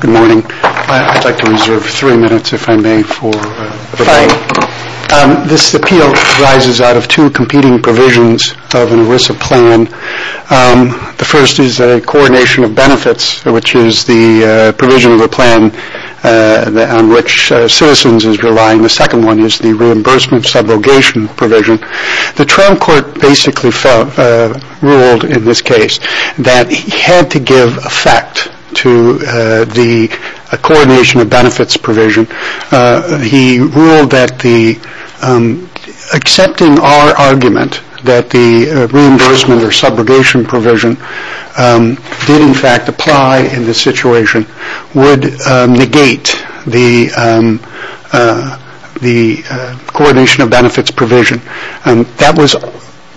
Good morning. I'd like to reserve three minutes, if I may, for the meeting. This appeal arises out of two competing provisions of an ERISA plan. The first is a coordination of benefits, which is the provision of the plan on which Citizens is relying. The second one is the reimbursement subrogation provision. The Trump court basically ruled in this case that he had to give effect to the coordination of benefits provision. He ruled that accepting our argument that the reimbursement or subrogation provision did in fact apply in this situation would negate the coordination of benefits provision. That was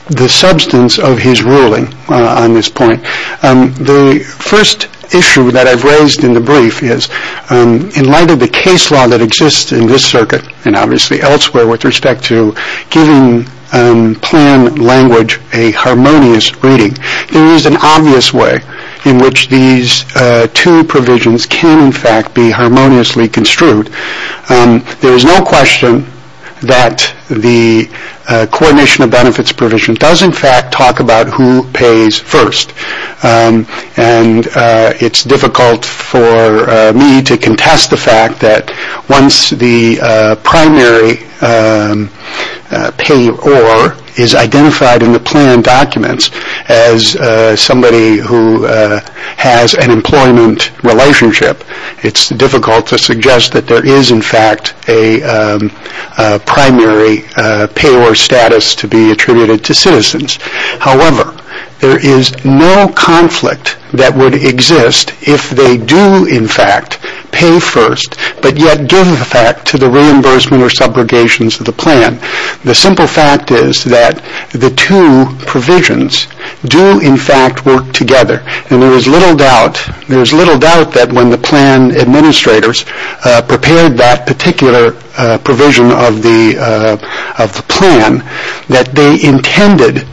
the substance of his ruling on this point. The first issue that I've raised in the brief is, in light of the case law that exists in this circuit and obviously elsewhere with respect to giving plan language a harmonious reading, there is an obvious way in which these two provisions can in fact be harmoniously construed. There is no question that the coordination of benefits provision does in fact talk about who pays first. It's difficult for me to contest the fact that once the primary payor is identified in the plan documents as somebody who has an employment relationship, it's difficult to suggest that there is in fact a primary payor status to be attributed to citizens. However, there is no conflict that would exist if they do in fact pay first but yet give effect to the reimbursement or subrogations of the plan. The simple fact is that the two provisions do in fact work together. There is little doubt that when the plan administrators prepared that particular provision of the plan, that they intended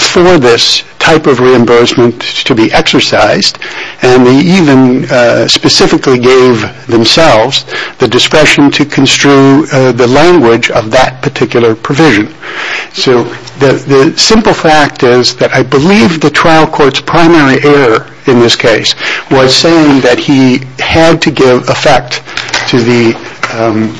for this type of reimbursement to be exercised and they even specifically gave themselves the discretion to construe the language of that particular provision. So the simple fact is that I believe the trial court's primary error in this case was saying that he had to give effect to the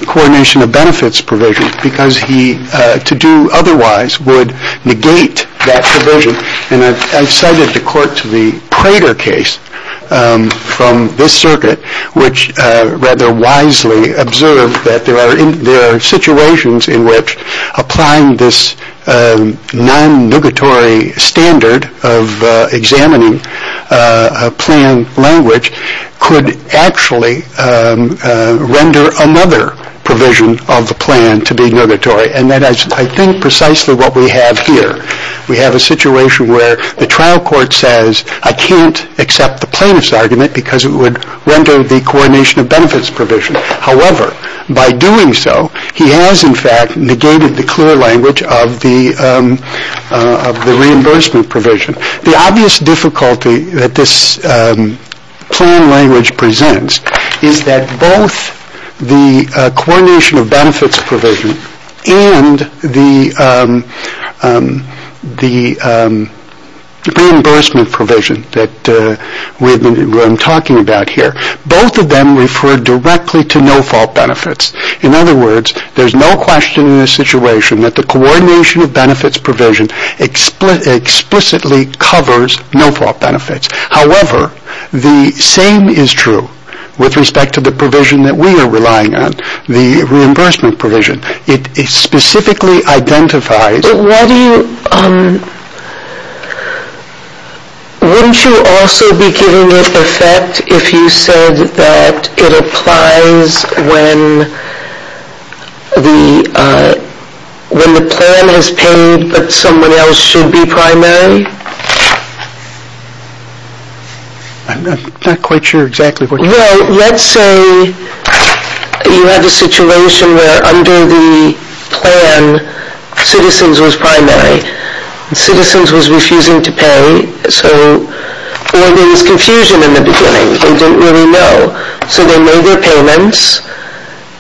coordination of benefits provision because to do otherwise would negate that provision. And I cited the court to the Prater case from this circuit which rather wisely observed that there are situations in which applying this non-nugatory standard of examining a plan language could actually render another provision of the plan to be nugatory. And that is I think precisely what we have here. We have a situation where the trial court says I can't accept the plaintiff's argument because it would render the coordination of benefits provision. However, by doing so, he has in fact negated the clear language of the reimbursement provision. The obvious difficulty that this plan language presents is that both the coordination of benefits provision and the reimbursement provision that I am talking about here, both of them refer directly to no-fault benefits. In other words, there is no question in this situation that the coordination of benefits provision explicitly covers no-fault benefits. However, the same is true with respect to the provision that we are relying on, the reimbursement provision. It specifically identifies... But why do you... Wouldn't you also be giving it effect if you said that it applies when the plan has paid but someone else should be primary? I'm not quite sure exactly what you mean. Well, let's say you have a situation where under the plan, citizens was primary. Citizens was refusing to pay, so there was confusion in the beginning. They didn't really know. So they made their payments,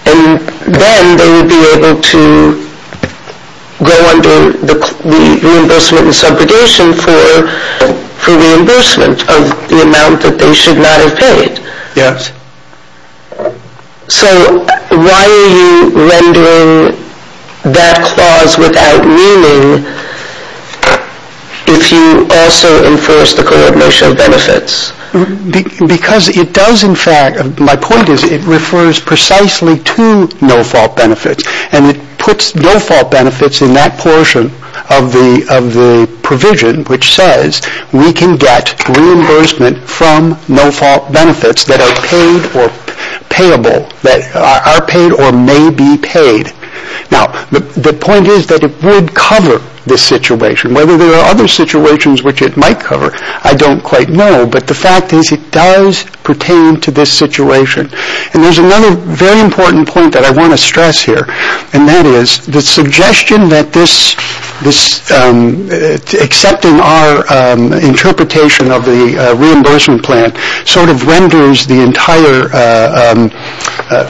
and then they would be able to go under the reimbursement and subrogation for reimbursement of the amount that they should not have paid. Yes. So why are you rendering that clause without meaning if you also enforce the coordination of benefits? Because it does in fact... My point is it refers precisely to no-fault benefits, and it puts no-fault benefits in that portion of the provision which says we can get reimbursement from no-fault benefits that are paid or payable, that are paid or may be paid. Now, the point is that it would cover this situation. Whether there are other situations which it might cover, I don't quite know, but the fact is it does pertain to this situation. And there's another very important point that I want to stress here, and that is the suggestion that this accepting our interpretation of the reimbursement plan sort of renders the entire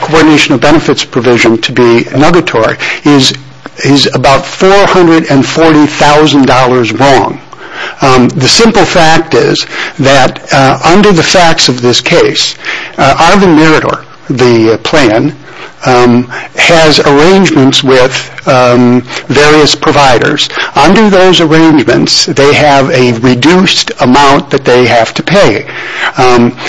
coordination of benefits provision to be negatory is about $440,000 wrong. The simple fact is that under the facts of this case, Arvin Mirador, the plan, has arrangements with various providers. Under those arrangements, they have a reduced amount that they have to pay.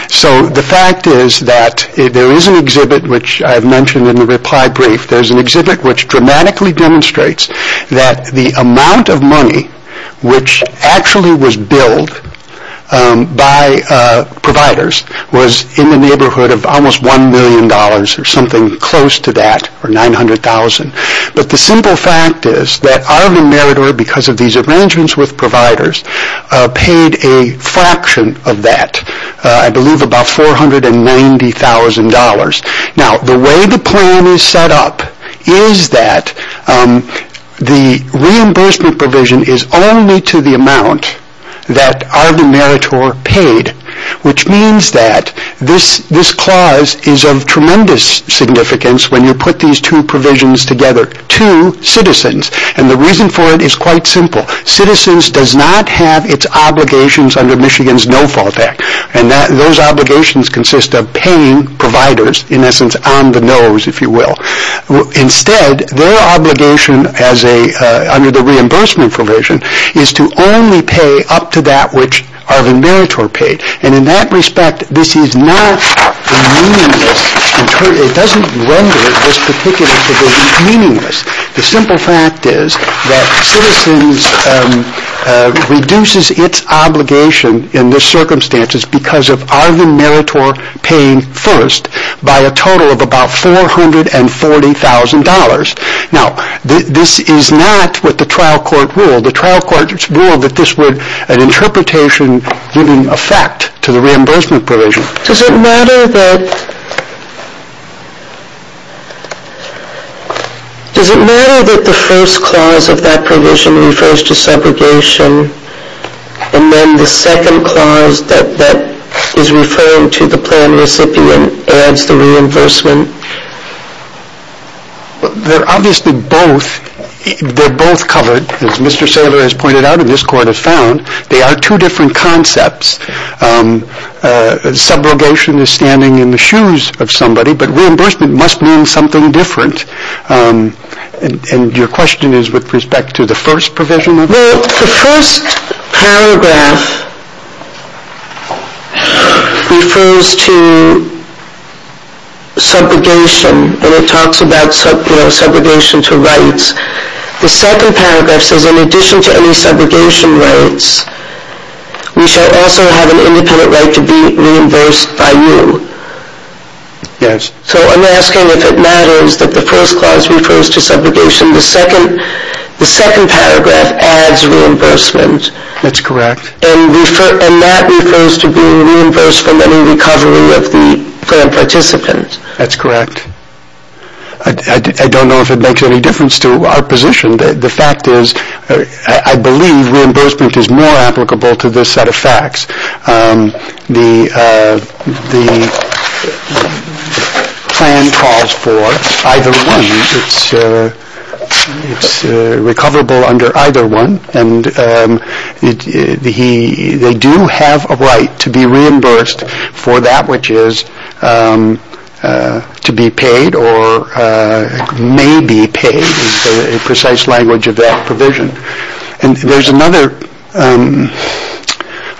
So the fact is that there is an exhibit which I have mentioned in the reply brief. There is an exhibit which dramatically demonstrates that the amount of money which actually was billed by providers was in the neighborhood of almost $1 million or something close to that, or $900,000. But the simple fact is that Arvin Mirador, because of these arrangements with providers, paid a fraction of that, I believe about $490,000. Now, the way the plan is set up is that the reimbursement provision is only to the amount that Arvin Mirador paid, which means that this clause is of tremendous significance when you put these two provisions together, two citizens. And the reason for it is quite simple. Citizens does not have its obligations under Michigan's No-Fault Act. And those obligations consist of paying providers, in essence, on the nose, if you will. Instead, their obligation under the reimbursement provision is to only pay up to that which Arvin Mirador paid. And in that respect, this is not meaningless. It doesn't render this particular provision meaningless. The simple fact is that citizens reduces its obligation in the circumstances because of Arvin Mirador paying first by a total of about $440,000. Now, this is not what the trial court ruled. The trial court ruled that this would, in interpretation, give an effect to the reimbursement provision. Does it matter that the first clause of that provision refers to segregation and then the second clause that is referring to the plan recipient adds the reimbursement? They're obviously both covered, as Mr. Saylor has pointed out and this court has found. They are two different concepts. Subrogation is standing in the shoes of somebody, but reimbursement must mean something different. And your question is with respect to the first provision? Well, the first paragraph refers to segregation and it talks about segregation to rights. The second paragraph says in addition to any segregation rights, we shall also have an independent right to be reimbursed by you. Yes. So I'm asking if it matters that the first clause refers to segregation. The second paragraph adds reimbursement. That's correct. And that refers to being reimbursed from any recovery of the plan participant. That's correct. I don't know if it makes any difference to our position. The fact is I believe reimbursement is more applicable to this set of facts. The plan calls for either one. It's to be paid or may be paid is the precise language of that provision. And there's another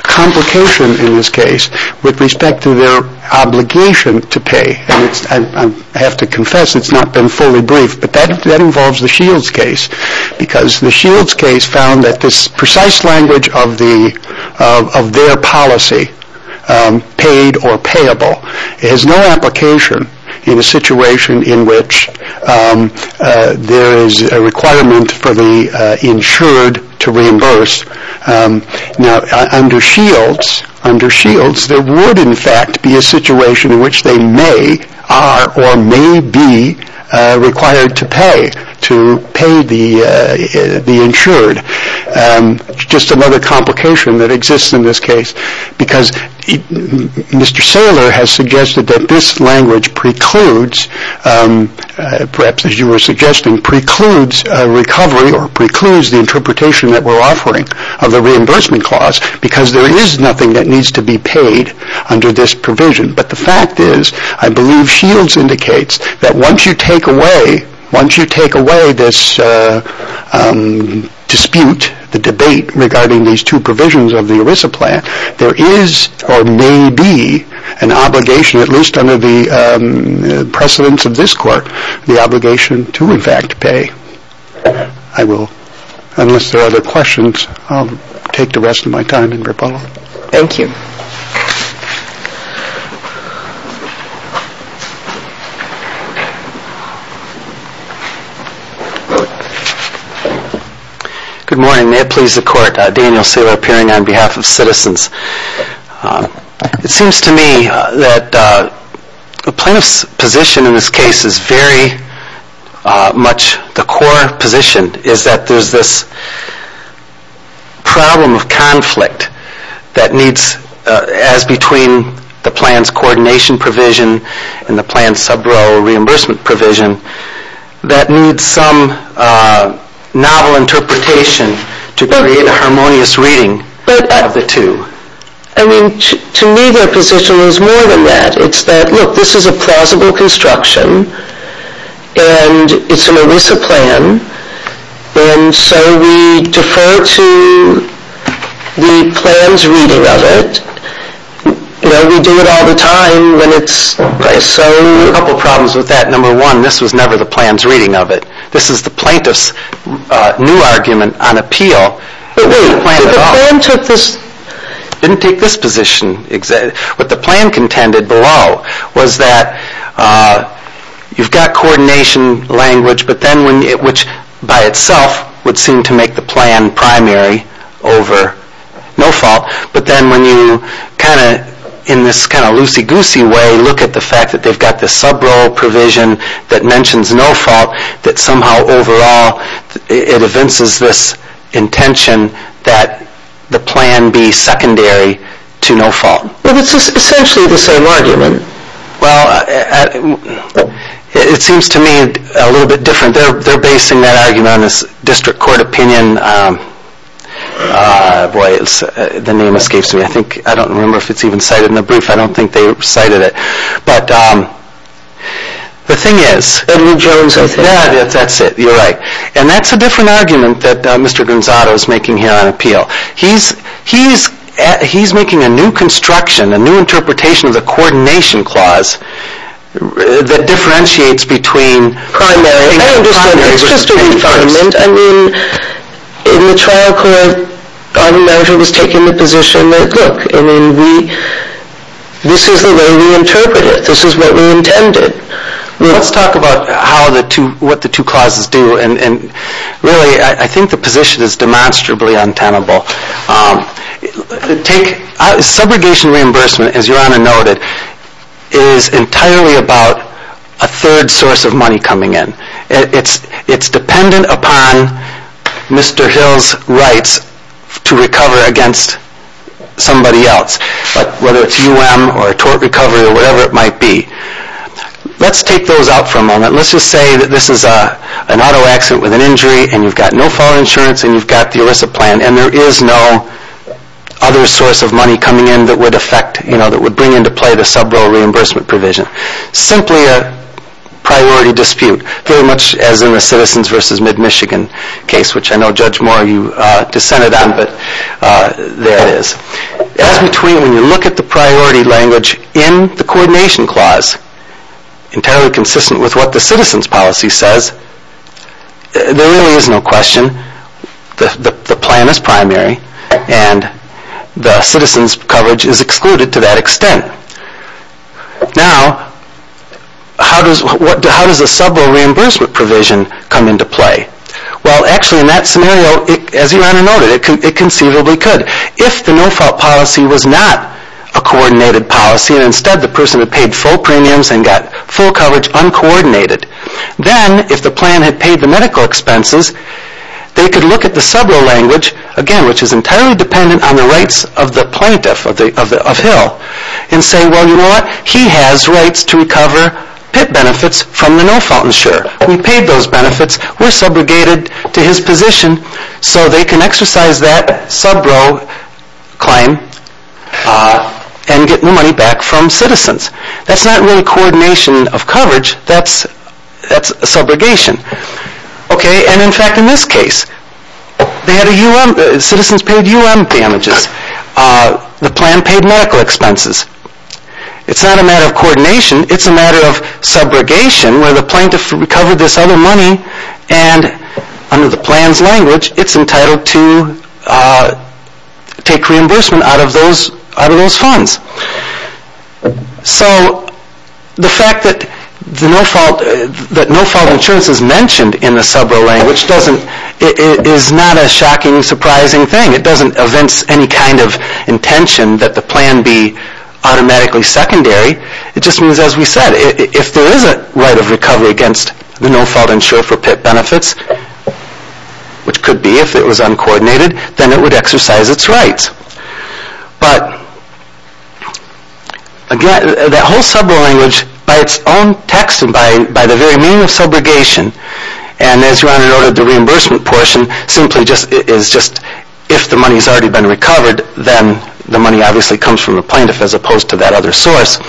complication in this case with respect to their obligation to pay. And I have to confess it's not been fully briefed, but that involves the Shields case because the policy paid or payable has no application in a situation in which there is a requirement for the insured to reimburse. Now, under Shields, there would in fact be a situation in which they may are or may be required to pay, to pay the insured. Just another complication that exists in this case because Mr. Saylor has suggested that this language precludes, perhaps as you were suggesting, precludes recovery or precludes the interpretation that we're offering of the reimbursement clause because there is nothing that needs to be paid under this provision. But the fact is I believe Shields indicates that once you take away, once you take away this dispute, the debate regarding these two provisions of the ERISA plan, there is or may be an obligation, at least under the precedence of this Court, the obligation to in fact pay. I will, unless there are other questions, I'll take the rest of my time. Thank you. Good morning. May it please the Court. Daniel Saylor appearing on behalf of Citizens. It seems to me that the plaintiff's position in this case is very much the core position, is that there's this problem of conflict that needs, as between the plan's coordination provision and the plan's sub-row reimbursement provision, that needs some novel interpretation to create a harmonious reading of the two. I mean, to me their position is more than that. It's that, look, this is a plausible construction and it's an So we defer to the plan's reading of it. You know, we do it all the time when it's so... There are a couple problems with that. Number one, this was never the plan's reading of it. This is the plaintiff's new argument on appeal. But wait, did the plan take this... It didn't take this position. What the plan contended below was that you've got coordination language, which by itself would seem to make the plan primary over no-fault. But then when you kind of, in this kind of loosey-goosey way, look at the fact that they've got this sub-row provision that mentions no-fault, that somehow overall it evinces this intention that the plan be secondary to no-fault. Well, it's essentially the same argument. Well, it seems to me a little bit different. They're basing that argument on this district court opinion. Boy, the name escapes me. I think, I don't remember if it's even cited in the brief. I don't think they cited it. But the thing is... Edwin Jones... Yeah, that's it. You're right. And that's a different argument that Mr. Gonzato is making here on appeal. He's making a new construction, a new interpretation of the coordination clause that differentiates between primary and no-fault. I understand. It's just a different argument. I mean, in the trial court, I remember he was taking the position that, look, I mean, this is the way we interpret it. This is what we intended. Let's talk about what the two clauses do. And really, I think the position is demonstrably untenable. Subrogation reimbursement, as Your Honor noted, is entirely about a third source of money coming in. It's dependent upon Mr. Hill's rights to recover against somebody else, whether it's U.M. or tort recovery or whatever it might be. Let's take those out for a moment. Let's just say that this is an auto accident with an injury, and you've got no-fault insurance, and you've got the ERISA plan, and there is no other source of money coming in that would bring into play the subrogation reimbursement provision. Simply a priority dispute, very much as in the Citizens v. MidMichigan case, which I know Judge Moore, you dissented on, but there it is. As between when you look at the priority language in the Coordination Clause, entirely consistent with what the Citizens policy says, there really is no question that the plan is primary, and the Citizens coverage is excluded to that extent. Now, how does a subrogation reimbursement provision come into play? Well, actually, in that scenario, as Your Honor noted, it conceivably could. If the no-fault policy was not a coordinated policy, and instead the person had paid full premiums and got full coverage uncoordinated, then if the plan had paid the medical expenses, they could look at the subro language, again, which is entirely dependent on the rights of the plaintiff, of Hill, and say, well, you know what, he has rights to recover PIP benefits from the no-fault insurer. We paid those benefits, we are subrogated to his position, so they can exercise that subro claim and get their money back from Citizens. That is not really coordination of coverage, that is subrogation. And in fact, in this case, Citizens paid U.M. damages, the plan paid medical expenses. It is not a matter of coordination, it is a matter of subrogation, where the plaintiff recovered this other money, and under the plan's language, it is entitled to take reimbursement out of those funds. So, the fact that no-fault insurance is mentioned in the subro language is not a shocking, surprising thing. It doesn't evince any kind of intention that the plan be automatically secondary. It just means, as we said, if there is a right of recovery against the no-fault insurer for PIP benefits, which could be if it was uncoordinated, then it would exercise its rights. But, again, that whole subro language, by its own text and by the very meaning of subrogation, and as Your Honor noted, the reimbursement portion simply is just if the money has already been recovered, then the money obviously comes from the plaintiff as opposed to that other source.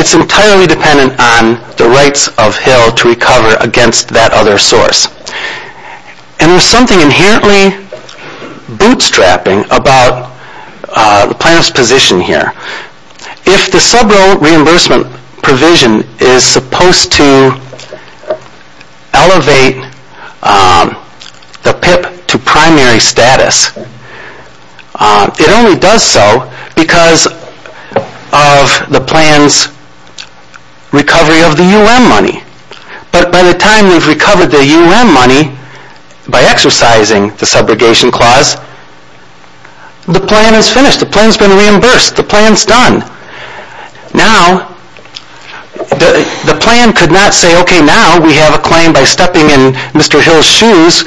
It is entirely dependent on the rights of Hill to recover against that other source. And there is something inherently bootstrapping about the plaintiff's position here. If the subro reimbursement provision is supposed to elevate the PIP to primary status, it only does so because of the plan's recovery of the UM money. But by the time we have recovered the UM money by exercising the subrogation clause, the plan is finished. The plan's been reimbursed. The plan's done. Now, the plan could not say, okay, now we have a claim by stepping in Mr. Hill's shoes.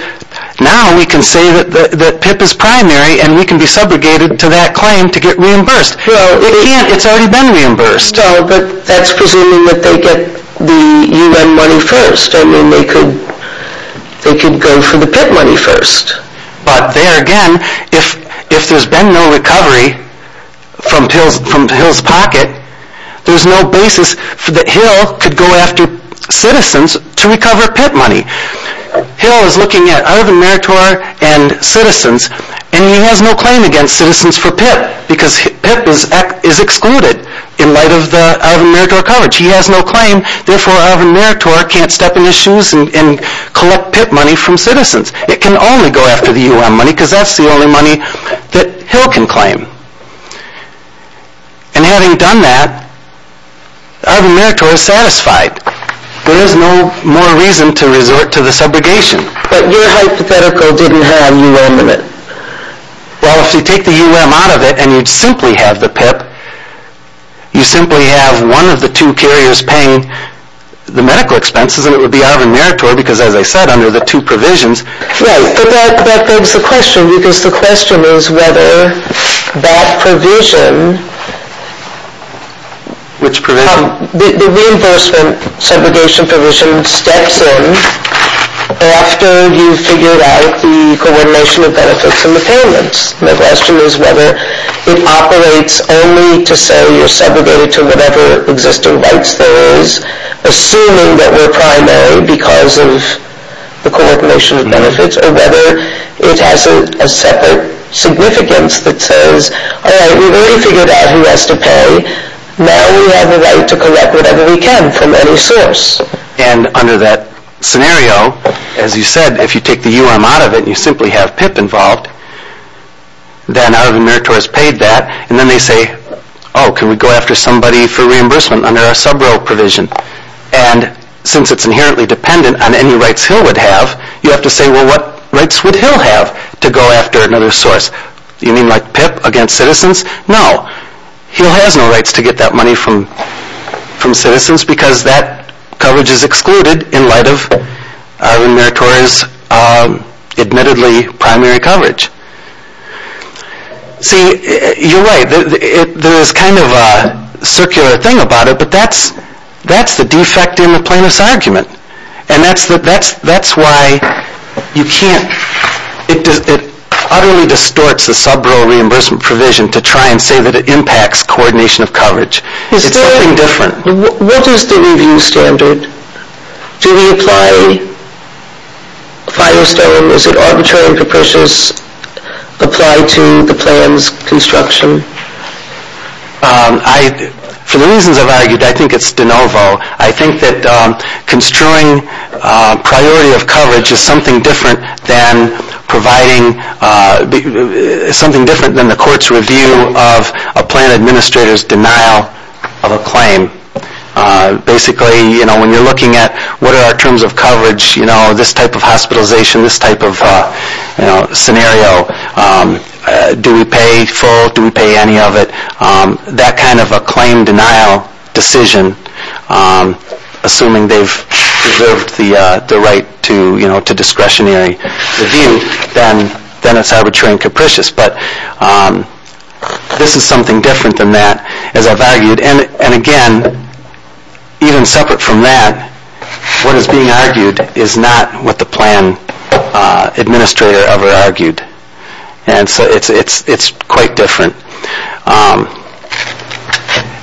Now we can say that PIP is primary and we can be subrogated to that claim to get reimbursed. It can't. It's already been reimbursed. No, but that's presuming that they get the UM money first. I mean, they could go for the PIP money first. But there again, if there's been no recovery from Hill's pocket, there's no basis that Hill could go after citizens to recover PIP money. Hill is looking at Urban Meritor and citizens, and he has no claim against citizens for PIP because PIP is excluded in light of the Urban Meritor coverage. He has no claim, therefore Urban Meritor can't step in his shoes and collect PIP money from citizens. It can only go after the UM money because that's the only money that Hill can claim. And having done that, Urban Meritor is satisfied. There is no more reason to resort to the subrogation. But your hypothetical didn't have UM in it. Well, if you take the UM out of it and you'd simply have the PIP, you simply have one of the two carriers paying the medical expenses, and it would be Urban Meritor because, as I said, under the two provisions. Right, but that begs the question because the question is whether that provision... Which provision? The reimbursement subrogation provision steps in after you've figured out the coordination of benefits and repayments. The question is whether it operates only to say you're segregated to whatever existing rights there is, assuming that we're primary because of the coordination of benefits, or whether it has a separate significance that says, all right, we've already figured out who has to pay. Now we have the right to collect whatever we can from any source. And under that scenario, as you said, if you take the UM out of it and you simply have PIP involved, then Urban Meritor has paid that, and then they say, oh, can we go after somebody for reimbursement under our subrogation provision? And since it's inherently dependent on any rights Hill would have, you have to say, well, what rights would Hill have to go after another source? You mean like PIP against citizens? No. Hill has no rights to get that money from citizens because that coverage is excluded in light of Urban Meritor's admittedly primary coverage. See, you're right. There is kind of a circular thing about it, but that's the defect in the plaintiff's argument. And that's why you can't, it utterly distorts the subrogation reimbursement provision to try and say that it impacts coordination of coverage. It's nothing different. What is the review standard? Do we apply Fido-Stone? Is it arbitrarily propitious to apply to the plan's construction? For the reasons I've argued, I think it's de novo. I think that construing priority of coverage is something different than providing, something different than the court's review of a plan administrator's denial of a claim. Basically, you know, when you're looking at what are our terms of coverage, this type of hospitalization, this type of scenario, do we pay full? Do we pay any of it? That kind of a claim denial decision, assuming they've deserved the right to discretionary review, then it's arbitrary and capricious. But this is something different than that, as I've argued. And again, even separate from that, what is being argued is not what the plan administrator ever argued. And so it's quite different.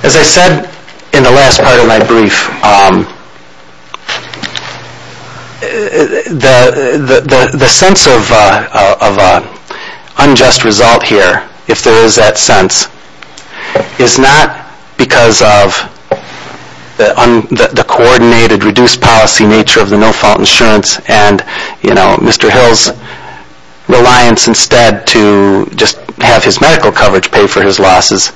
As I said in the last part of my brief, the sense of unjust result here, if there is that sense, is not because of the coordinated reduced policy nature of the no-fault insurance and, you know, Mr. Hill's reliance instead to just have his medical coverage pay for his losses.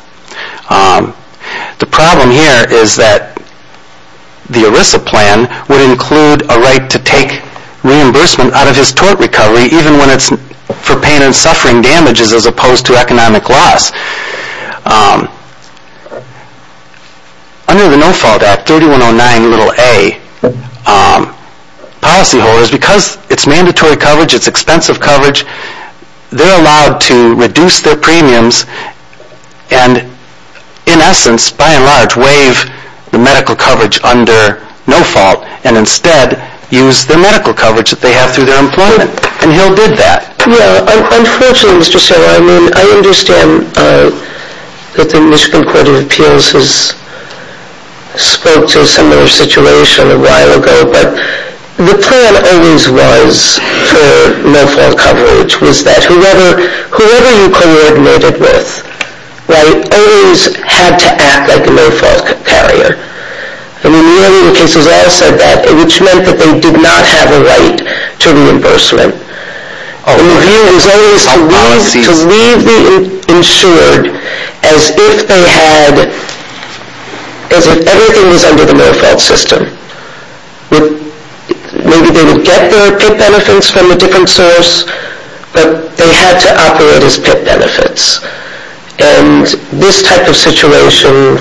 The problem here is that the ERISA plan would include a right to take reimbursement out of his tort recovery, even when it's for pain and suffering damages as opposed to economic loss. Under the No-Fault Act, 3109a, policyholders, because it's mandatory coverage, it's expensive coverage, they're allowed to reduce their premiums and, in essence, by and large, waive the medical coverage under No-Fault and instead use the medical coverage that they have through their employment. And Hill did that. Yeah, unfortunately, Mr. Sobel, I mean, I understand that the Michigan Court of Appeals has spoke to a similar situation a while ago, but the plan always was for No-Fault coverage was that whoever you coordinated with, right, always had to act like a No-Fault carrier. I mean, nearly in cases outside that, which meant that they did not have a right to reimbursement. The review was always to leave the insured as if they had, as if everything was under the No-Fault system. Maybe they would get their PIP benefits from a different source, but they had to operate as PIP benefits. And this type of situation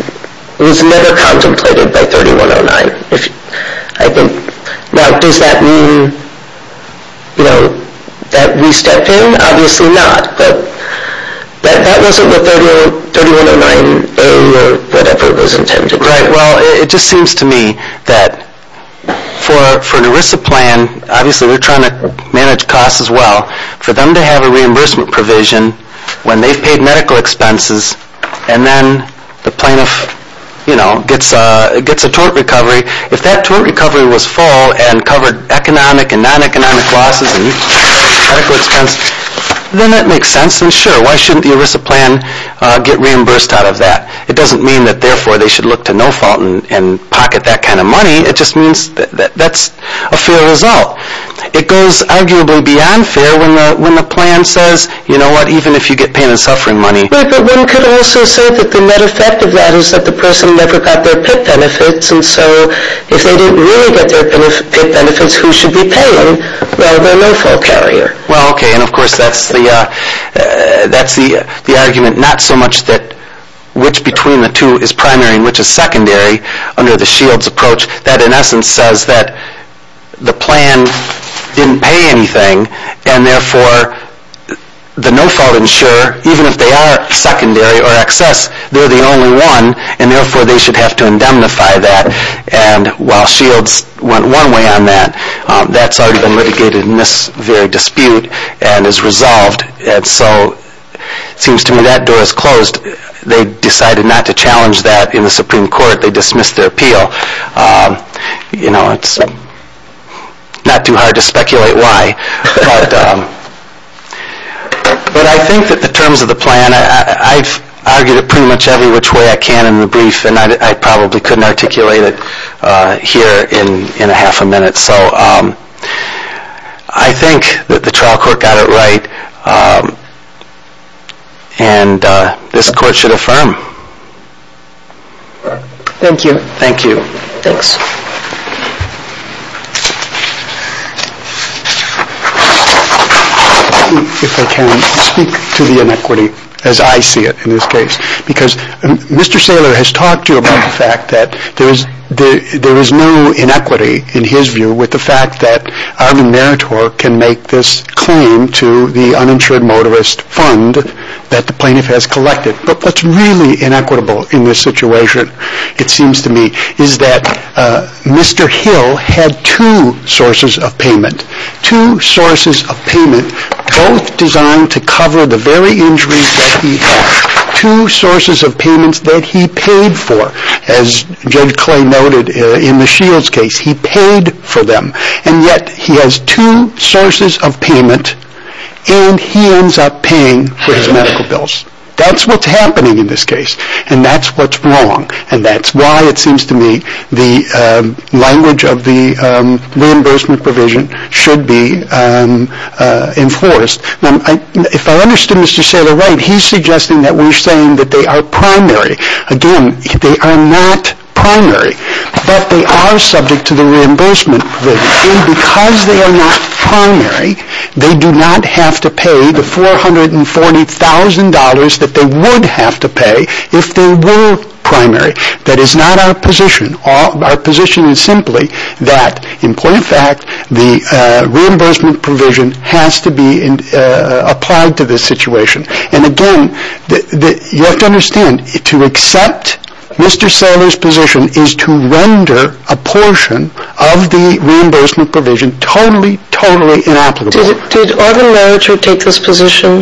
was never contemplated by 3109. Now, does that mean that we step in? Obviously not, but that wasn't what 3109A or whatever was intended, right? Well, it just seems to me that for an ERISA plan, obviously we're trying to manage costs as well, for them to have a reimbursement provision when they've paid medical expenses and then the plaintiff, you know, gets a tort recovery. If that tort recovery was full and covered economic and non-economic losses and medical expenses, then that makes sense and sure, why shouldn't the ERISA plan get reimbursed out of that? It doesn't mean that therefore they should look to No-Fault and pocket that kind of money. It just means that that's a fair result. It goes arguably beyond fair when the plan says, you know what, even if you get pain and suffering money, but one could also say that the net effect of that is that the person never got their PIP benefits and so if they didn't really get their PIP benefits, who should be paying? Well, their No-Fault carrier. Well, okay, and of course that's the argument not so much that which between the two is primary and which is secondary under the SHIELDS approach that in essence says that the plan didn't pay anything and therefore the No-Fault insurer, even if they are secondary or excess, they're the only one and therefore they should have to indemnify that and while SHIELDS went one way on that, that's already been litigated in this very dispute and is resolved and so it seems to me that door is closed. They decided not to challenge that in the Supreme Court. They dismissed their appeal. You know, it's not too hard to speculate why, but I think that the terms of the plan, I've argued it pretty much every which way I can in the brief and I probably couldn't articulate it here in a half a minute, so I think that the trial court got it right and this court should affirm. Thank you. Thank you. Thanks. If I can speak to the inequity as I see it in this case because Mr. Saylor has talked to you about the fact that there is no inequity in his view with the fact that Arvin Meritor can make this claim to the uninsured motorist fund that the plaintiff has collected, but what's really inequitable in this situation, it seems to me, is that Mr. Hill had two sources of payment, two sources of payment both designed to cover the very injuries that he had, two sources of payments that he paid for. As Judge Clay noted in the SHIELDS case, he paid for them and yet he has two sources of payment and he ends up paying for his medical bills. That's what's happening in this case and that's what's wrong and that's why it seems to me the language of the reimbursement provision should be enforced. If I understood Mr. Saylor right, he's suggesting that we're saying that they are primary. Again, they are not primary, but they are subject to the reimbursement provision and because they are not primary, they do not have to pay the $440,000 that they would have to pay if they were primary. That is not our position. Our position is simply that, in point of fact, the reimbursement provision has to be applied to this situation. And again, you have to understand, to accept Mr. Saylor's position is to render a portion of the reimbursement provision totally, totally inapplicable. Did Oregon Merritree take this position,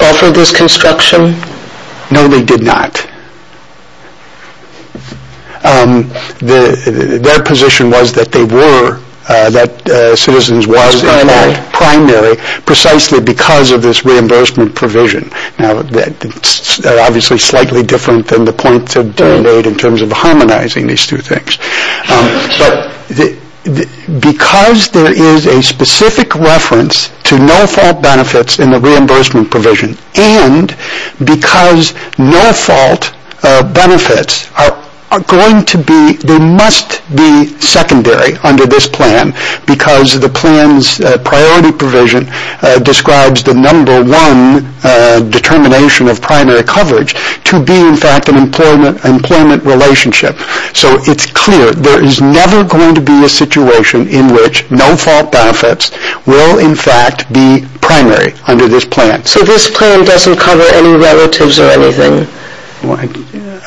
offer this construction? No, they did not. Their position was that they were, that Citizens was primary precisely because of this reimbursement provision. Now, that's obviously slightly different than the points that were made in terms of harmonizing these two things. But because there is a specific reference to no-fault benefits in the reimbursement provision and because no-fault benefits are going to be, they must be secondary under this plan because the plan's priority provision describes the number one determination of primary coverage to be, in fact, an employment relationship. So it's clear there is never going to be a situation in which no-fault benefits will, in fact, be primary under this plan. So this plan doesn't cover any relatives or anything?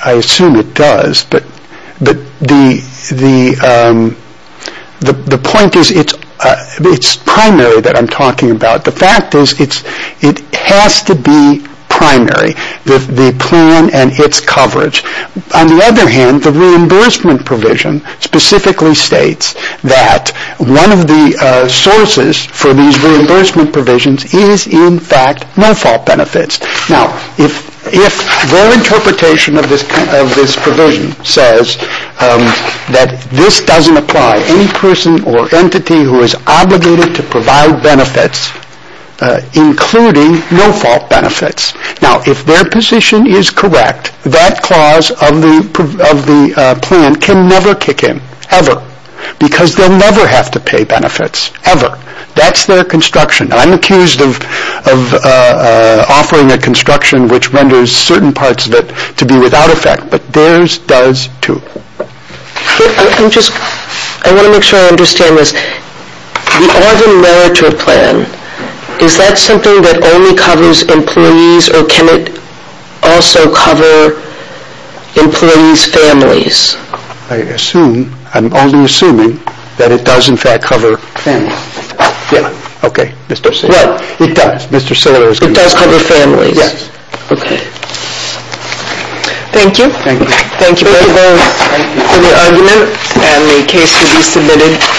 I assume it does, but the point is it's primary that I'm talking about. The fact is it has to be primary, the plan and its coverage. On the other hand, the reimbursement provision specifically states that one of the sources for these reimbursement provisions is, in fact, no-fault benefits. Now, if their interpretation of this provision says that this doesn't apply, any person or entity who is obligated to provide benefits, including no-fault benefits, now, if their position is correct, that clause of the plan can never kick in, ever, because they'll never have to pay benefits, ever. That's their construction. I'm accused of offering a construction which renders certain parts of it to be without effect, but theirs does, too. I want to make sure I understand this. The Oregon Meritor Plan, is that something that only covers employees, or can it also cover employees' families? I'm only assuming that it does, in fact, cover families. Okay, Mr. Siller. It does. Mr. Siller is correct. It does cover families. Yes. Okay. Thank you. Thank you. Thank you very much for the argument and the case to be submitted.